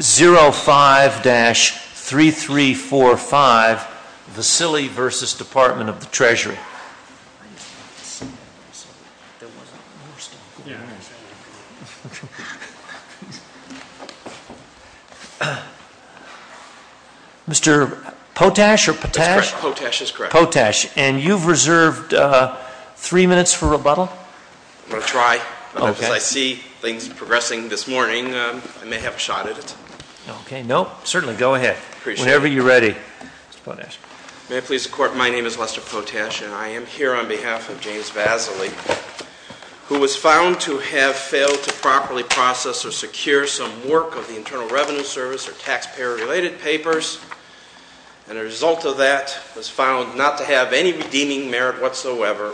05-3345, Vasily v. Department of the Treasury. Mr. Potash, and you've reserved three minutes for rebuttal? I'm going to try, but as I see things progressing this morning, I may have a shot at it. Okay. No, certainly go ahead. Whenever you're ready. Mr. Potash. May it please the Court, my name is Lester Potash, and I am here on behalf of James Vasily, who was found to have failed to properly process or secure some work of the Internal Revenue Service or taxpayer-related papers, and a result of that was found not to have any redeeming merit whatsoever,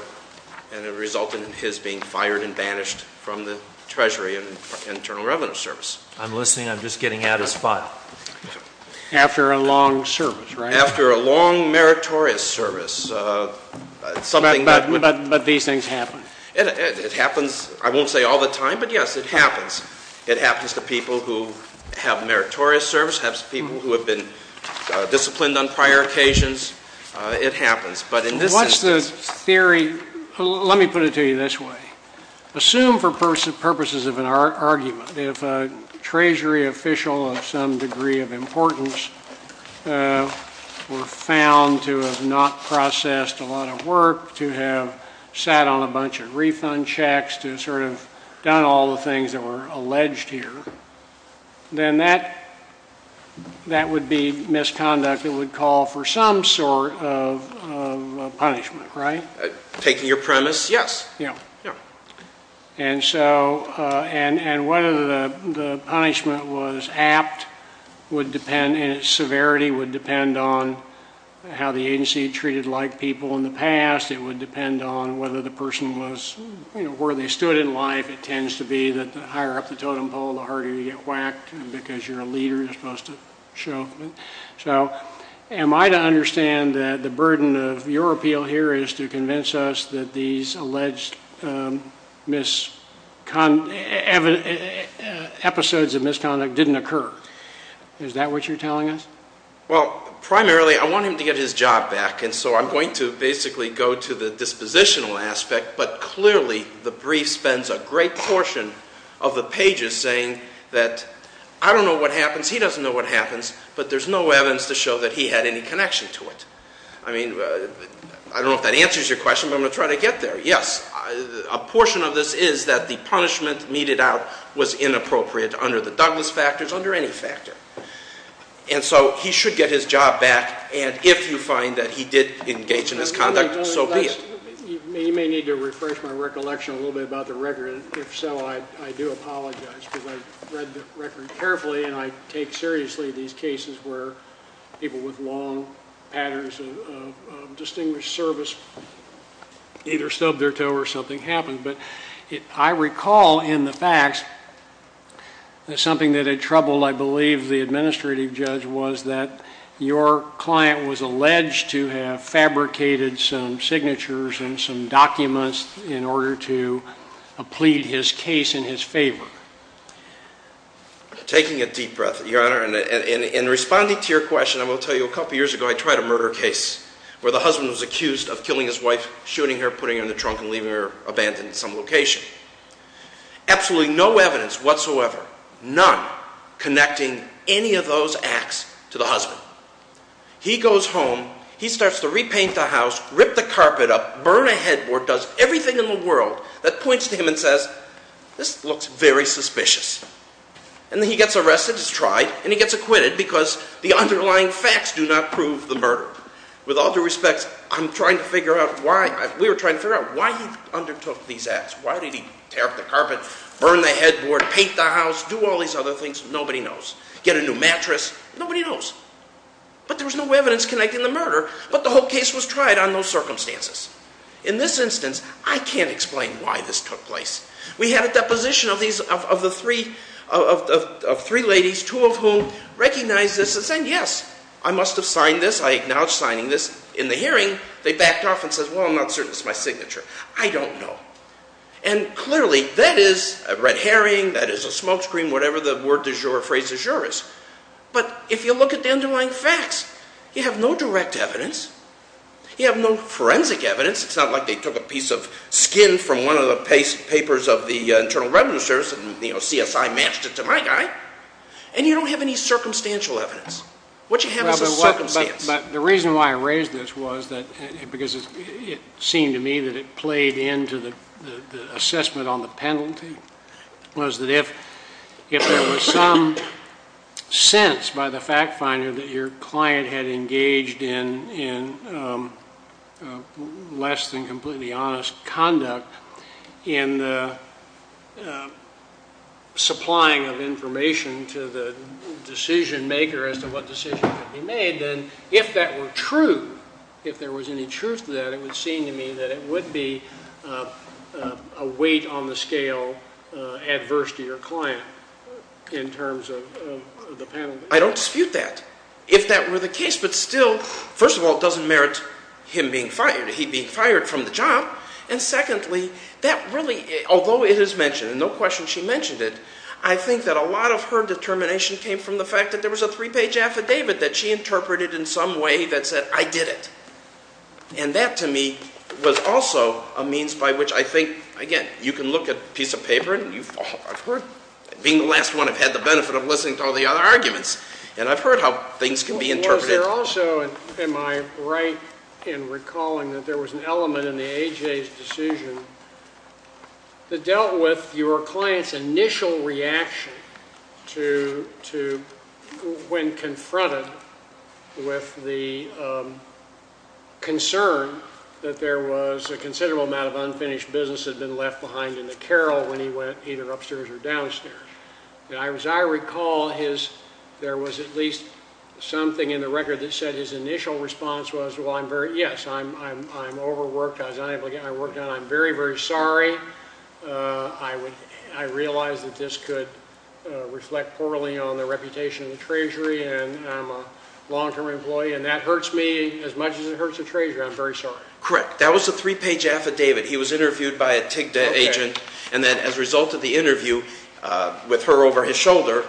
and it resulted in his being fired and banished from the Treasury and Internal Revenue Service. I'm listening. I'm just getting out of spot. After a long service, right? After a long meritorious service, something that would— But these things happen. It happens, I won't say all the time, but yes, it happens. It happens to people who have meritorious service, it happens to people who have been disciplined on prior occasions. It happens. But in this instance— What's the theory—let me put it to you this way. Assume for purposes of an argument, if a Treasury official of some degree of importance were found to have not processed a lot of work, to have sat on a bunch of refund checks, to sort of done all the things that were alleged here, then that would be misconduct that would call for some sort of punishment, right? Taking your premise, yes. And so—and whether the punishment was apt would depend, and its severity would depend on how the agency treated like people in the past. It would depend on whether the person was—you know, where they stood in life, it tends to be that the higher up the totem pole, the harder you get whacked because you're a leader and you're supposed to show—so am I to understand that the burden of your appeal here is to convince us that these alleged episodes of misconduct didn't occur? Is that what you're telling us? Well, primarily I want him to get his job back, and so I'm going to basically go to the dispositional aspect, but clearly the brief spends a great portion of the pages saying that, I don't know what happens, he doesn't know what happens, but there's no evidence to show that he had any connection to it. I mean, I don't know if that answers your question, but I'm going to try to get there. Yes, a portion of this is that the punishment meted out was inappropriate under the Douglas factors, under any factor. And so he should get his job back, and if you find that he did engage in misconduct, so be it. You may need to refresh my recollection a little bit about the record, and if so, I do apologize because I read the record carefully and I take seriously these cases where people with long patterns of distinguished service either stubbed their toe or something happened. But I recall in the facts that something that had troubled, I believe, the administrative judge was that your client was alleged to have fabricated some signatures and some documents in order to plead his case in his favor. Taking a deep breath, Your Honor, and responding to your question, I will tell you a couple years ago I tried a murder case where the husband was accused of killing his wife, shooting her, putting her in the trunk and leaving her abandoned in some location. Absolutely no evidence whatsoever, none, connecting any of those acts to the husband. He goes home, he starts to repaint the house, rip the carpet up, burn a headboard, does everything in the world that points to him and says, this looks very suspicious. And then he gets arrested, he's tried, and he gets acquitted because the underlying facts do not prove the murder. With all due respect, I'm trying to figure out why, we were trying to figure out why he undertook these acts. Why did he tear up the carpet, burn the headboard, paint the house, do all these other things? Nobody knows. Get a new mattress? Nobody knows. But there was no evidence connecting the murder, but the whole case was tried on those circumstances. In this instance, I can't explain why this took place. We had a deposition of three ladies, two of whom recognized this and said, yes, I must have signed this, I acknowledge signing this. In the hearing, they backed off and said, well, I'm not certain it's my signature. I don't know. And clearly, that is a red herring, that is a smokescreen, whatever the word de jure or phrase de jure is. But if you look at the underlying facts, you have no direct evidence, you have no forensic evidence. It's not like they took a piece of skin from one of the papers of the Internal Revenue Service and CSI matched it to my guy, and you don't have any circumstantial evidence. What you have is a circumstance. But the reason why I raised this was because it seemed to me that it played into the assessment on the penalty, was that if there was some sense by the fact finder that your client had engaged in less than completely honest conduct in the supplying of information to the decision maker as to what decision could be made, then if that were true, if there was any truth to that, it would seem to me that it would be a weight on the scale adverse to your client in terms of the penalty. I don't dispute that, if that were the case. But still, first of all, it doesn't merit him being fired, he being fired from the job. And secondly, that really, although it is mentioned, and no question she mentioned it, I think that a lot of her determination came from the fact that there was a three-page affidavit that she interpreted in some way that said, I did it. And that to me was also a means by which I think, again, you can look at a piece of paper and you've heard, being the last one I've had the benefit of listening to all the other arguments, and I've heard how things can be interpreted. Was there also, am I right in recalling that there was an element in the A.J.'s decision that dealt with your client's initial reaction when confronted with the concern that there was a considerable amount of unfinished business that had been left behind in the carrel when he went either upstairs or downstairs? As I recall, there was at least something in the record that said his initial response was, well, yes, I'm overworked, I was unable to get my work done. I'm very, very sorry. I realize that this could reflect poorly on the reputation of the Treasury, and I'm a long-term employee, and that hurts me as much as it hurts the Treasury. I'm very sorry. Correct. That was a three-page affidavit. He was interviewed by a TIGA agent, and then as a result of the interview with her over his shoulder,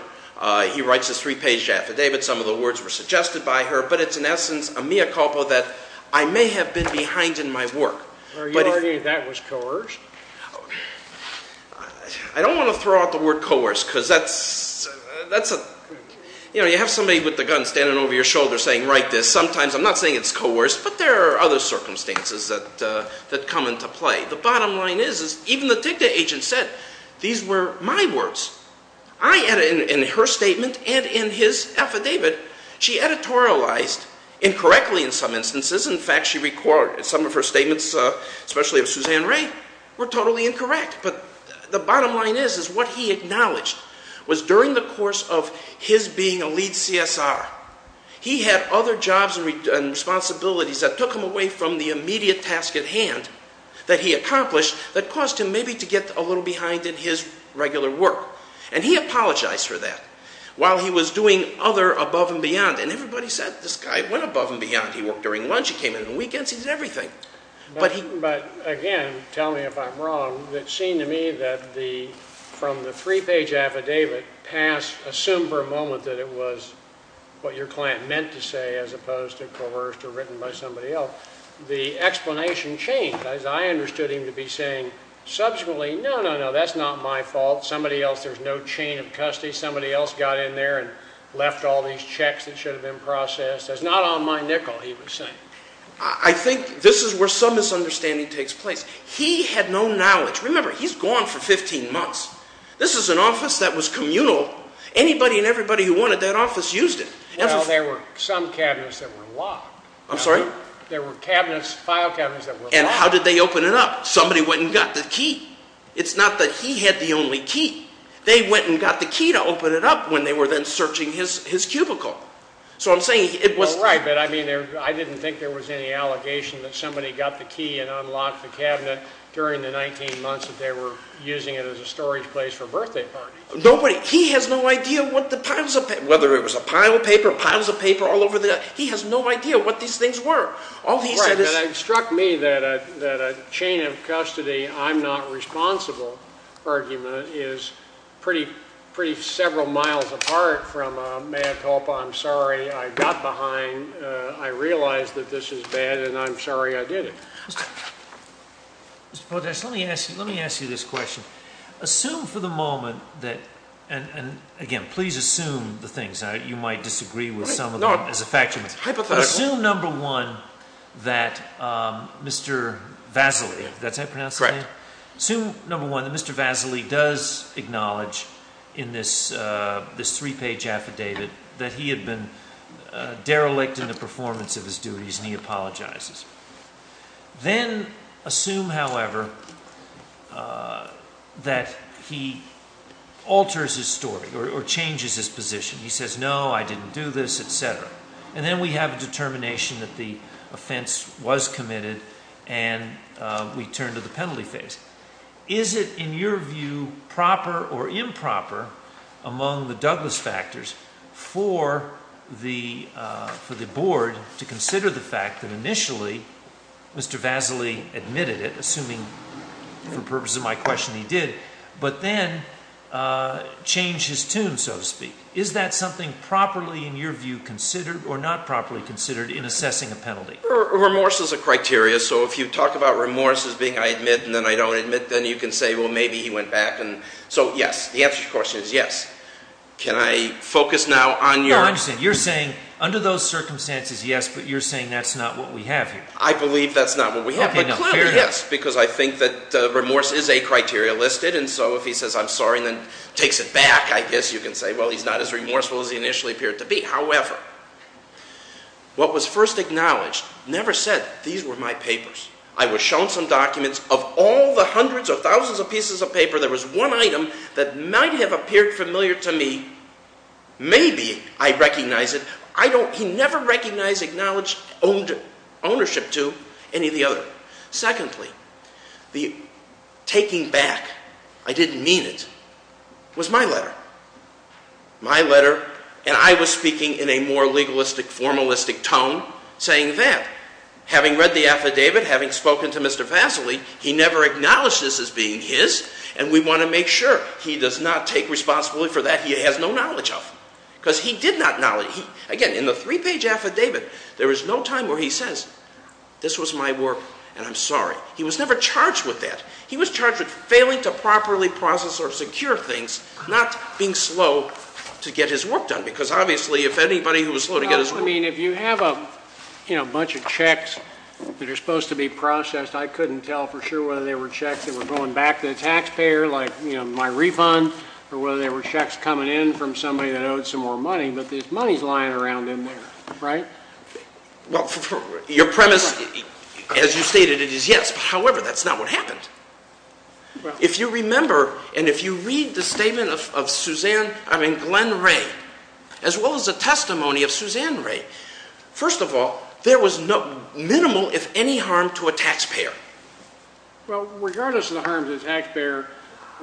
he writes this three-page affidavit. Some of the words were suggested by her, but it's in essence a mea culpa that I may have been behind in my work. Are you arguing that was coerced? I don't want to throw out the word coerced, because that's, you know, you have somebody with a gun standing over your shoulder saying, write this. Sometimes, I'm not saying it's coerced, but there are other circumstances that come into play. The bottom line is, even the TIGA agent said, these were my words. I added in her statement and in his affidavit, she editorialized incorrectly in some instances. In fact, she recorded some of her statements, especially of Suzanne Ray, were totally incorrect. But the bottom line is, is what he acknowledged was during the course of his being a lead CSR, he had other jobs and responsibilities that took him away from the immediate task at hand that he accomplished that caused him maybe to get a little behind in his regular work. And he apologized for that while he was doing other above and beyond. And everybody said, this guy went above and beyond. He worked during lunch. He came in on weekends. He did everything. But he... But again, tell me if I'm wrong, it seemed to me that the, from the three-page affidavit passed assumed for a moment that it was what your client meant to say, as opposed to coerced or written by somebody else. The explanation changed, as I understood him to be saying subsequently, no, no, no, that's not my fault. Somebody else, there's no chain of custody. Somebody else got in there and left all these checks that should have been processed. That's not on my nickel, he was saying. I think this is where some misunderstanding takes place. He had no knowledge. Remember, he's gone for 15 months. This is an office that was communal. Anybody and everybody who wanted that office used it. Well, there were some cabinets that were locked. I'm sorry? There were cabinets, file cabinets that were locked. And how did they open it up? Somebody went and got the key. It's not that he had the only key. They went and got the key to open it up when they were then searching his cubicle. So I'm saying it was... Well, right, but I mean, I didn't think there was any allegation that somebody got the key and unlocked the cabinet during the 19 months that they were using it as a storage place for birthday parties. Nobody, he has no idea what the piles of, whether it was a pile of paper, piles of paper all over the, he has no idea what these things were. All he said is... Right, and it struck me that a chain of custody, I'm not responsible argument is pretty, pretty I'm several miles apart from a mea culpa, I'm sorry, I got behind. I realized that this is bad and I'm sorry I did it. Mr. Potash, let me ask you, let me ask you this question. Assume for the moment that, and again, please assume the things, you might disagree with some of them as a fact, but assume number one, that Mr. Vasily, that's how you pronounce his name? Correct. Assume number one, that Mr. Vasily does acknowledge in this three-page affidavit that he had been derelict in the performance of his duties and he apologizes. Then assume, however, that he alters his story or changes his position. He says, no, I didn't do this, etc. And then we have a determination that the offense was committed and we turn to the penalty phase. Is it, in your view, proper or improper among the Douglas factors for the board to consider the fact that initially Mr. Vasily admitted it, assuming for the purpose of my question he did, but then change his tune, so to speak. Is that something properly, in your view, considered or not properly considered in assessing a penalty? Remorse is a criteria. So if you talk about remorse as being I admit and then I don't admit, then you can say, well, maybe he went back. So yes. The answer to your question is yes. Can I focus now on your... No, I understand. You're saying under those circumstances, yes, but you're saying that's not what we have here. I believe that's not what we have, but clearly, yes, because I think that remorse is a criteria listed and so if he says, I'm sorry, and then takes it back, I guess you can say, well, he's not as remorseful as he initially appeared to be. However, what was first acknowledged, never said, these were my papers. I was shown some documents of all the hundreds or thousands of pieces of paper. There was one item that might have appeared familiar to me. Maybe I recognize it. I don't... He never recognized, acknowledged ownership to any of the other. Secondly, the taking back, I didn't mean it, was my letter. My letter, and I was speaking in a more legalistic, formalistic tone, saying that, having read the affidavit, having spoken to Mr. Vassily, he never acknowledged this as being his, and we want to make sure he does not take responsibility for that he has no knowledge of, because he did not know... Again, in the three-page affidavit, there is no time where he says, this was my work and I'm sorry. He was never charged with that. He was charged with failing to properly process or secure things, not being slow to get his work done. Because obviously, if anybody who was slow to get his work done... I mean, if you have a bunch of checks that are supposed to be processed, I couldn't tell for sure whether they were checks that were going back to the taxpayer, like my refund, or whether they were checks coming in from somebody that owed some more money, but there's monies lying around in there, right? Well, your premise, as you stated, it is yes, but however, that's not what happened. If you remember, and if you read the statement of Glenn Ray, as well as the testimony of Suzanne Ray, first of all, there was minimal, if any, harm to a taxpayer. Well, regardless of the harm to the taxpayer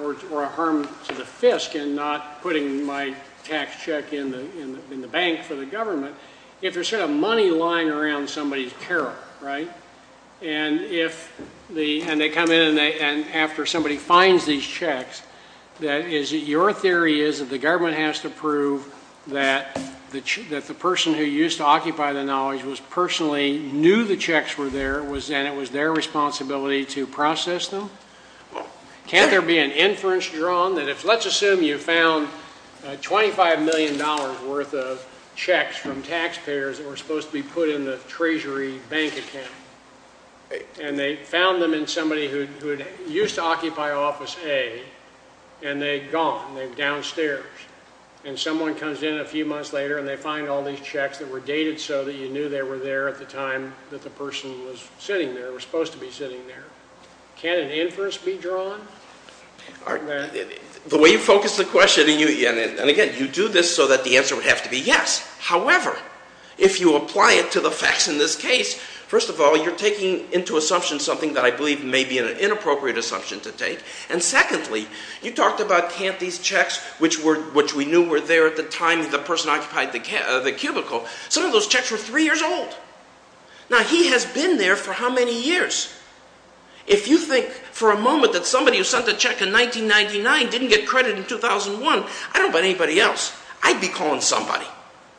or a harm to the FISC in not putting my tax check in the bank for the government, if there's sort of money lying around somebody's peril, right, and they come in and after somebody finds these checks, your theory is that the government has to prove that the person who used to occupy the knowledge personally knew the checks were there, and it was their responsibility to process them? Well, can't there be an inference drawn that if, let's assume you found $25 million worth of checks from taxpayers that were supposed to be put in the treasury bank account, and they found them in somebody who used to occupy Office A, and they'd gone, they've downstairs, and someone comes in a few months later and they find all these checks that were dated so that you knew they were there at the time that the person was sitting there, was supposed to be sitting there. Can an inference be drawn? The way you focus the question, and again, you do this so that the answer would have to be yes. However, if you apply it to the facts in this case, first of all, you're taking into assumption something that I believe may be an inappropriate assumption to take, and secondly, you talked about can't these checks, which we knew were there at the time the person occupied the cubicle, some of those checks were three years old. Now, he has been there for how many years? If you think for a moment that somebody who sent a check in 1999 didn't get credit in 2001, I don't bet anybody else, I'd be calling somebody.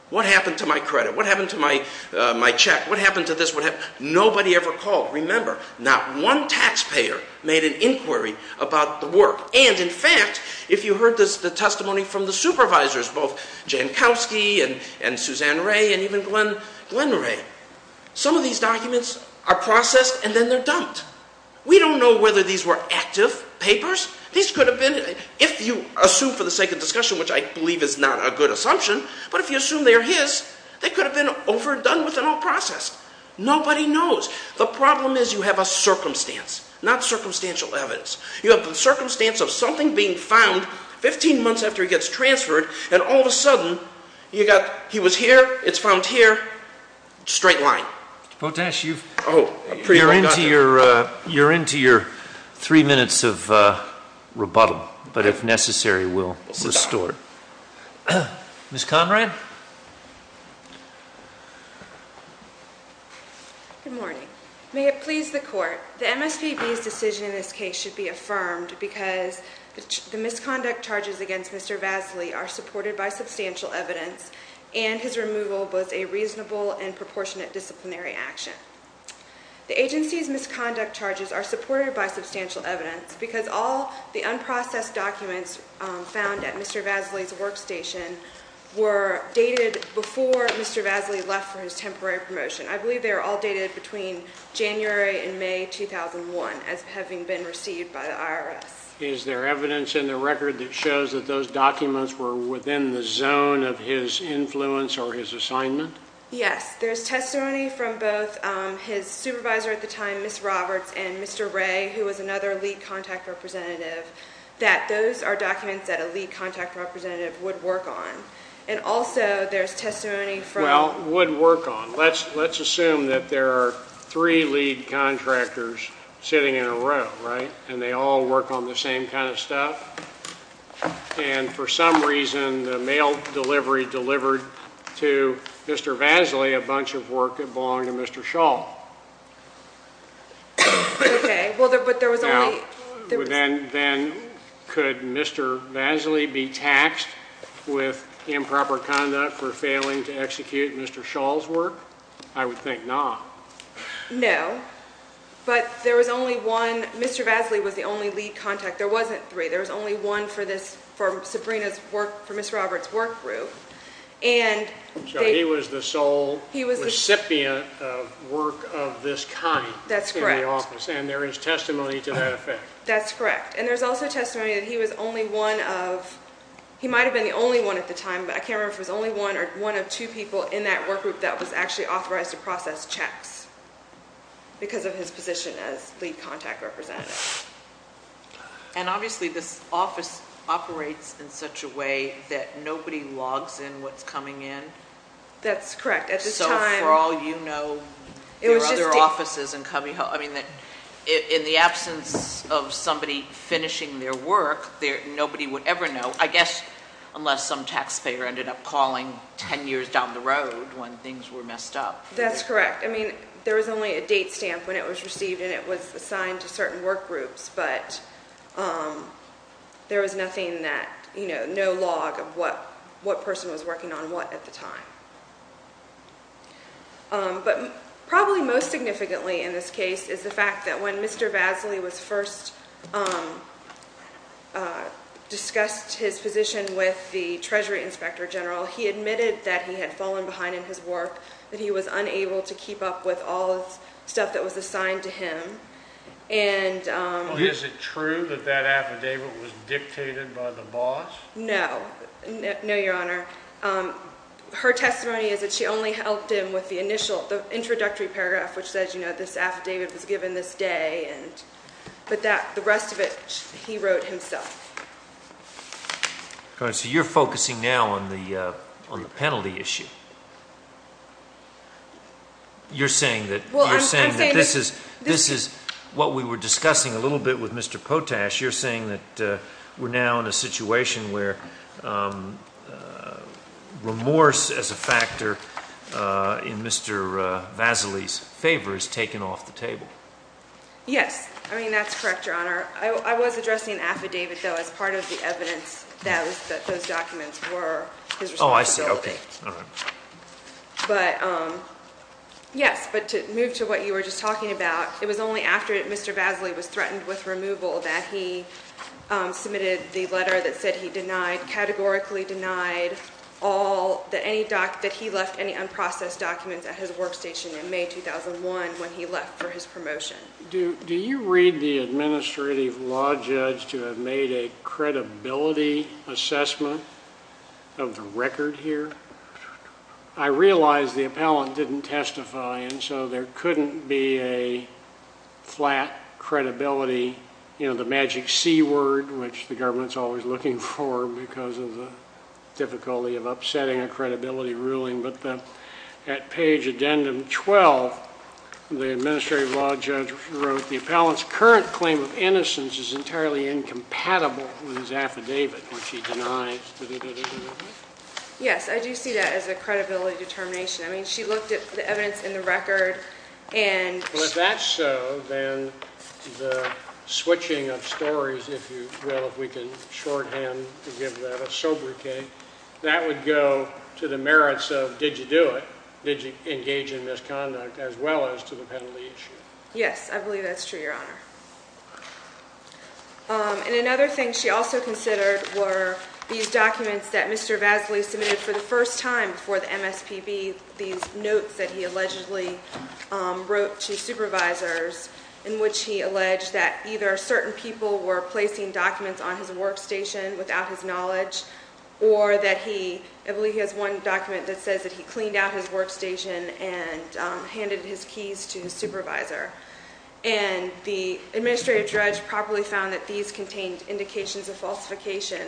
What happened to my credit? What happened to my check? What happened to this? What happened? Nobody ever called. Remember, not one taxpayer made an inquiry about the work, and in fact, if you heard the testimony from the supervisors, both Jankowski and Suzanne Ray and even Glenn Ray, some of these documents are processed and then they're dumped. We don't know whether these were active papers. These could have been, if you assume for the sake of discussion, which I believe is not a good assumption, but if you assume they're his, they could have been overdone with and all processed. Nobody knows. The problem is you have a circumstance, not circumstantial evidence. You have the circumstance of something being found 15 months after it gets transferred and all of a sudden, you got, he was here, it's found here, straight line. Mr. Potash, you're into your three minutes of rebuttal, but if necessary, we'll restore it. Ms. Conrad? Good morning. May it please the court, the MSPB's decision in this case should be affirmed because the misconduct charges against Mr. Vasily are supported by substantial evidence and his removal was a reasonable and proportionate disciplinary action. The agency's misconduct charges are supported by substantial evidence because all the unprocessed documents found at Mr. Vasily's workstation were dated before Mr. Vasily left for his temporary promotion. I believe they were all dated between January and May 2001 as having been received by the IRS. Is there evidence in the record that shows that those documents were within the zone of his influence or his assignment? Yes. There's testimony from both his supervisor at the time, Ms. Roberts, and Mr. Ray, who was another lead contact representative, that those are documents that a lead contact representative would work on. And also, there's testimony from- Well, would work on. Let's assume that there are three lead contractors sitting in a row, right, and they all work on the same kind of stuff, and for some reason, the mail delivery delivered to Mr. Vasily a bunch of work that belonged to Mr. Schall. Okay. Well, but there was only- Then, could Mr. Vasily be taxed with improper conduct for failing to execute Mr. Schall's work? I would think not. No. But there was only one- Mr. Vasily was the only lead contact. There wasn't three. There was only one for Ms. Roberts' work group, and- So, he was the sole recipient of work of this kind in the office. That's correct. And there is testimony to that effect. That's correct. And there's also testimony that he was only one of- he might have been the only one at the time, but I can't remember if it was only one or one of two people in that work group that was actually authorized to process checks because of his position as lead contact representative. And obviously, this office operates in such a way that nobody logs in what's coming in. That's correct. At this time- So, for all you know, there are other offices and coming- I mean, in the absence of somebody finishing their work, nobody would ever know, I guess, unless some taxpayer ended up calling ten years down the road when things were messed up. That's correct. I mean, there was only a date stamp when it was received, and it was assigned to certain work groups, but there was nothing that- you know, no log of what person was working on what at the time. But probably most significantly in this case is the fact that when Mr. Vasily was first discussed his position with the Treasury Inspector General, he admitted that he had fallen behind in his work, that he was unable to keep up with all the stuff that was assigned to him. And- Is it true that that affidavit was dictated by the boss? No. No, Your Honor. Her testimony is that she only helped him with the initial- the introductory paragraph, which says, you know, this affidavit was given this day, and- but that- the rest of it, he wrote himself. Your Honor, so you're focusing now on the penalty issue? You're saying that- Well, I'm saying- You're saying that this is- this is what we were discussing a little bit with Mr. Potash. You're saying that we're now in a situation where remorse as a factor in Mr. Vasily's favor is taken off the table. Yes. I mean, that's correct, Your Honor. I was addressing affidavit, though, as part of the evidence that those documents were his responsibility. Oh, I see. Okay. All right. But, yes. But to move to what you were just talking about, it was only after Mr. Vasily was threatened with removal that he submitted the letter that said he denied- categorically denied all- that any doc- that he left any unprocessed documents at his workstation in May 2001 when he left for his promotion. Do you read the administrative law judge to have made a credibility assessment of the record here? I realize the appellant didn't testify, and so there couldn't be a flat credibility- you know, the magic C word, which the government's always looking for because of the difficulty of upsetting a credibility ruling, but the- at page addendum 12, the administrative law judge wrote, the appellant's current claim of innocence is entirely incompatible with his affidavit, which he denies. Yes. Yes. I do see that as a credibility determination. I mean, she looked at the evidence in the record, and- Well, if that's so, then the switching of stories, if you will, if we can shorthand to give that a sobriquet, that would go to the merits of, did you do it? Did you engage in misconduct? As well as to the penalty issue. Yes. I believe that's true, Your Honor. And another thing she also considered were these documents that Mr. Vasily submitted for the first time before the MSPB, these notes that he allegedly wrote to supervisors in which he alleged that either certain people were placing documents on his workstation without his knowledge, or that he- I believe he has one document that says that he cleaned out his workstation and handed his keys to his supervisor. And the administrative judge properly found that these contained indications of falsification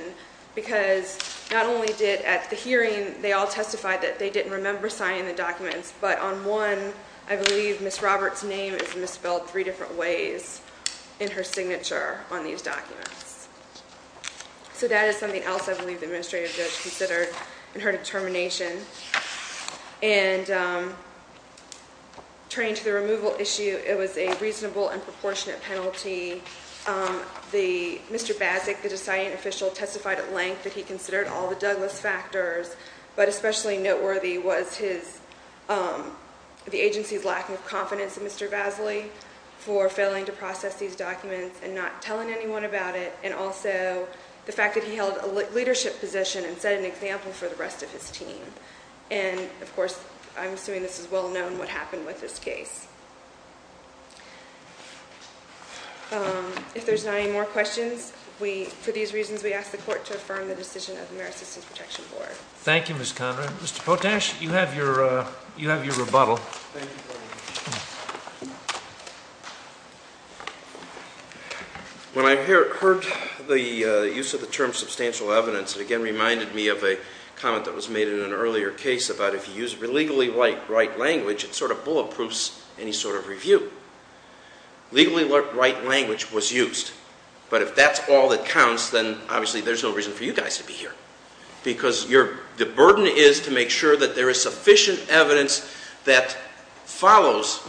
because not only did, at the hearing, they all testified that they didn't remember signing the documents, but on one, I believe Ms. Roberts' name is misspelled three different ways in her signature on these documents. So that is something else I believe the administrative judge considered in her determination. And turning to the removal issue, it was a reasonable and proportionate penalty. The- Mr. Bazic, the deciding official, testified at length that he considered all the Douglas factors, but especially noteworthy was his- the agency's lack of confidence in Mr. Vasily for failing to process these documents and not telling anyone about it, and also the a leadership position and set an example for the rest of his team. And, of course, I'm assuming this is well known what happened with this case. If there's not any more questions, we- for these reasons, we ask the court to affirm the decision of the Merit Systems Protection Board. Thank you, Ms. Conrad. Mr. Potash, you have your- you have your rebuttal. When I heard the use of the term substantial evidence, it again reminded me of a comment that was made in an earlier case about if you use illegally write language, it sort of bulletproofs any sort of review. Legally write language was used, but if that's all that counts, then obviously there's no reason for you guys to be here because your- the burden is to make sure that there is evidence that follows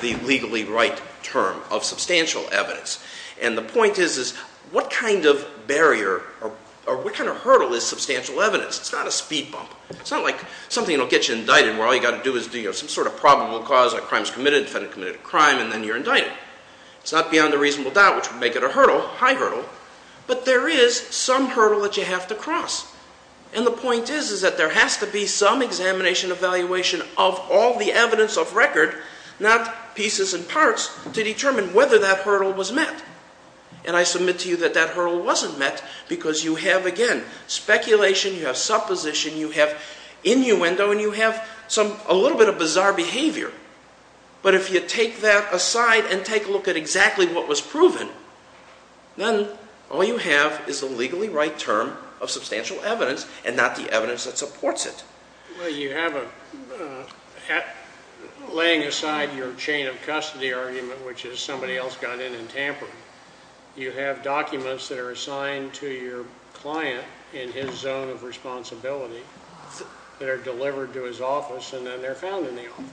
the legally write term of substantial evidence. And the point is, is what kind of barrier or what kind of hurdle is substantial evidence? It's not a speed bump. It's not like something that will get you indicted where all you got to do is do some sort of probable cause, a crime is committed, defendant committed a crime, and then you're indicted. It's not beyond a reasonable doubt, which would make it a hurdle, high hurdle, but there is some hurdle that you have to cross. And the point is, is that there has to be some examination, evaluation of all the evidence of record, not pieces and parts, to determine whether that hurdle was met. And I submit to you that that hurdle wasn't met because you have, again, speculation, you have supposition, you have innuendo, and you have some- a little bit of bizarre behavior. But if you take that aside and take a look at exactly what was proven, then all you have is the legally right term of substantial evidence and not the evidence that supports it. Well, you have a- laying aside your chain of custody argument, which is somebody else got in and tampered, you have documents that are assigned to your client in his zone of responsibility that are delivered to his office and then they're found in the office.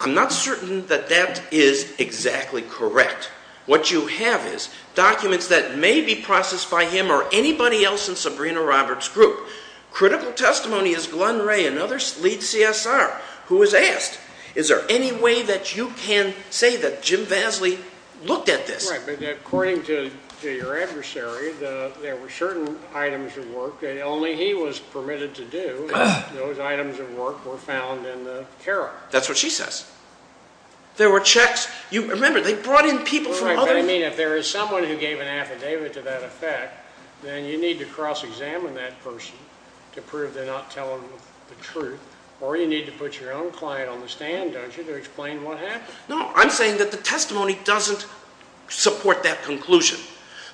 I'm not certain that that is exactly correct. What you have is documents that may be processed by him or anybody else in Sabrina Roberts' group. Critical testimony is Glenn Ray, another lead CSR, who was asked, is there any way that you can say that Jim Vasley looked at this? Right, but according to your adversary, there were certain items of work that only he was permitted to do, and those items of work were found in the carer. That's what she says. There were checks. You remember, they brought in people from other- Right, but I mean if there is someone who gave an affidavit to that effect, then you need to cross-examine that person to prove they're not telling the truth, or you need to put your own client on the stand, don't you, to explain what happened. No, I'm saying that the testimony doesn't support that conclusion.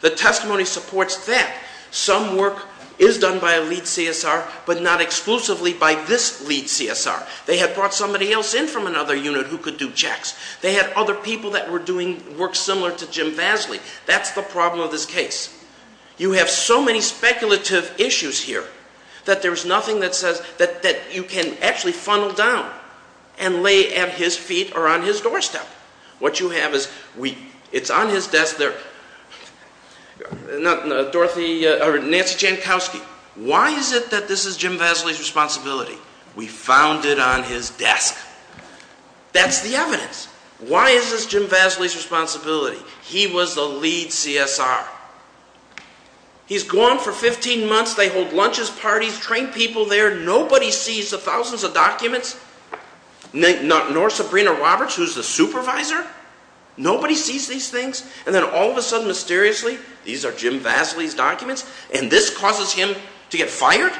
The testimony supports that. Some work is done by a lead CSR, but not exclusively by this lead CSR. They had brought somebody else in from another unit who could do checks. They had other people that were doing work similar to Jim Vasley. That's the problem of this case. You have so many speculative issues here that there's nothing that says that you can actually funnel down and lay at his feet or on his doorstep. What you have is, it's on his desk there, Nancy Jankowski. Why is it that this is Jim Vasley's responsibility? We found it on his desk. That's the evidence. Why is this Jim Vasley's responsibility? He was the lead CSR. He's gone for 15 months, they hold lunches, parties, train people there, nobody sees the thousands of documents, nor Sabrina Roberts, who's the supervisor. Nobody sees these things. And then all of a sudden, mysteriously, these are Jim Vasley's documents, and this causes him to get fired?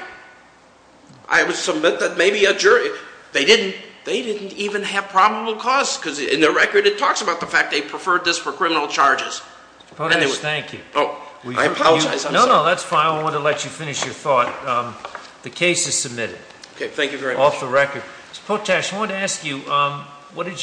I would submit that maybe a jury, they didn't even have probable cause, because in the record it talks about the fact they preferred this for criminal charges. Potash, thank you. Oh, I apologize. No, no, that's fine. I wanted to let you finish your thought. The case is submitted. Okay, thank you very much. Potash, I wanted to ask you, what did you do?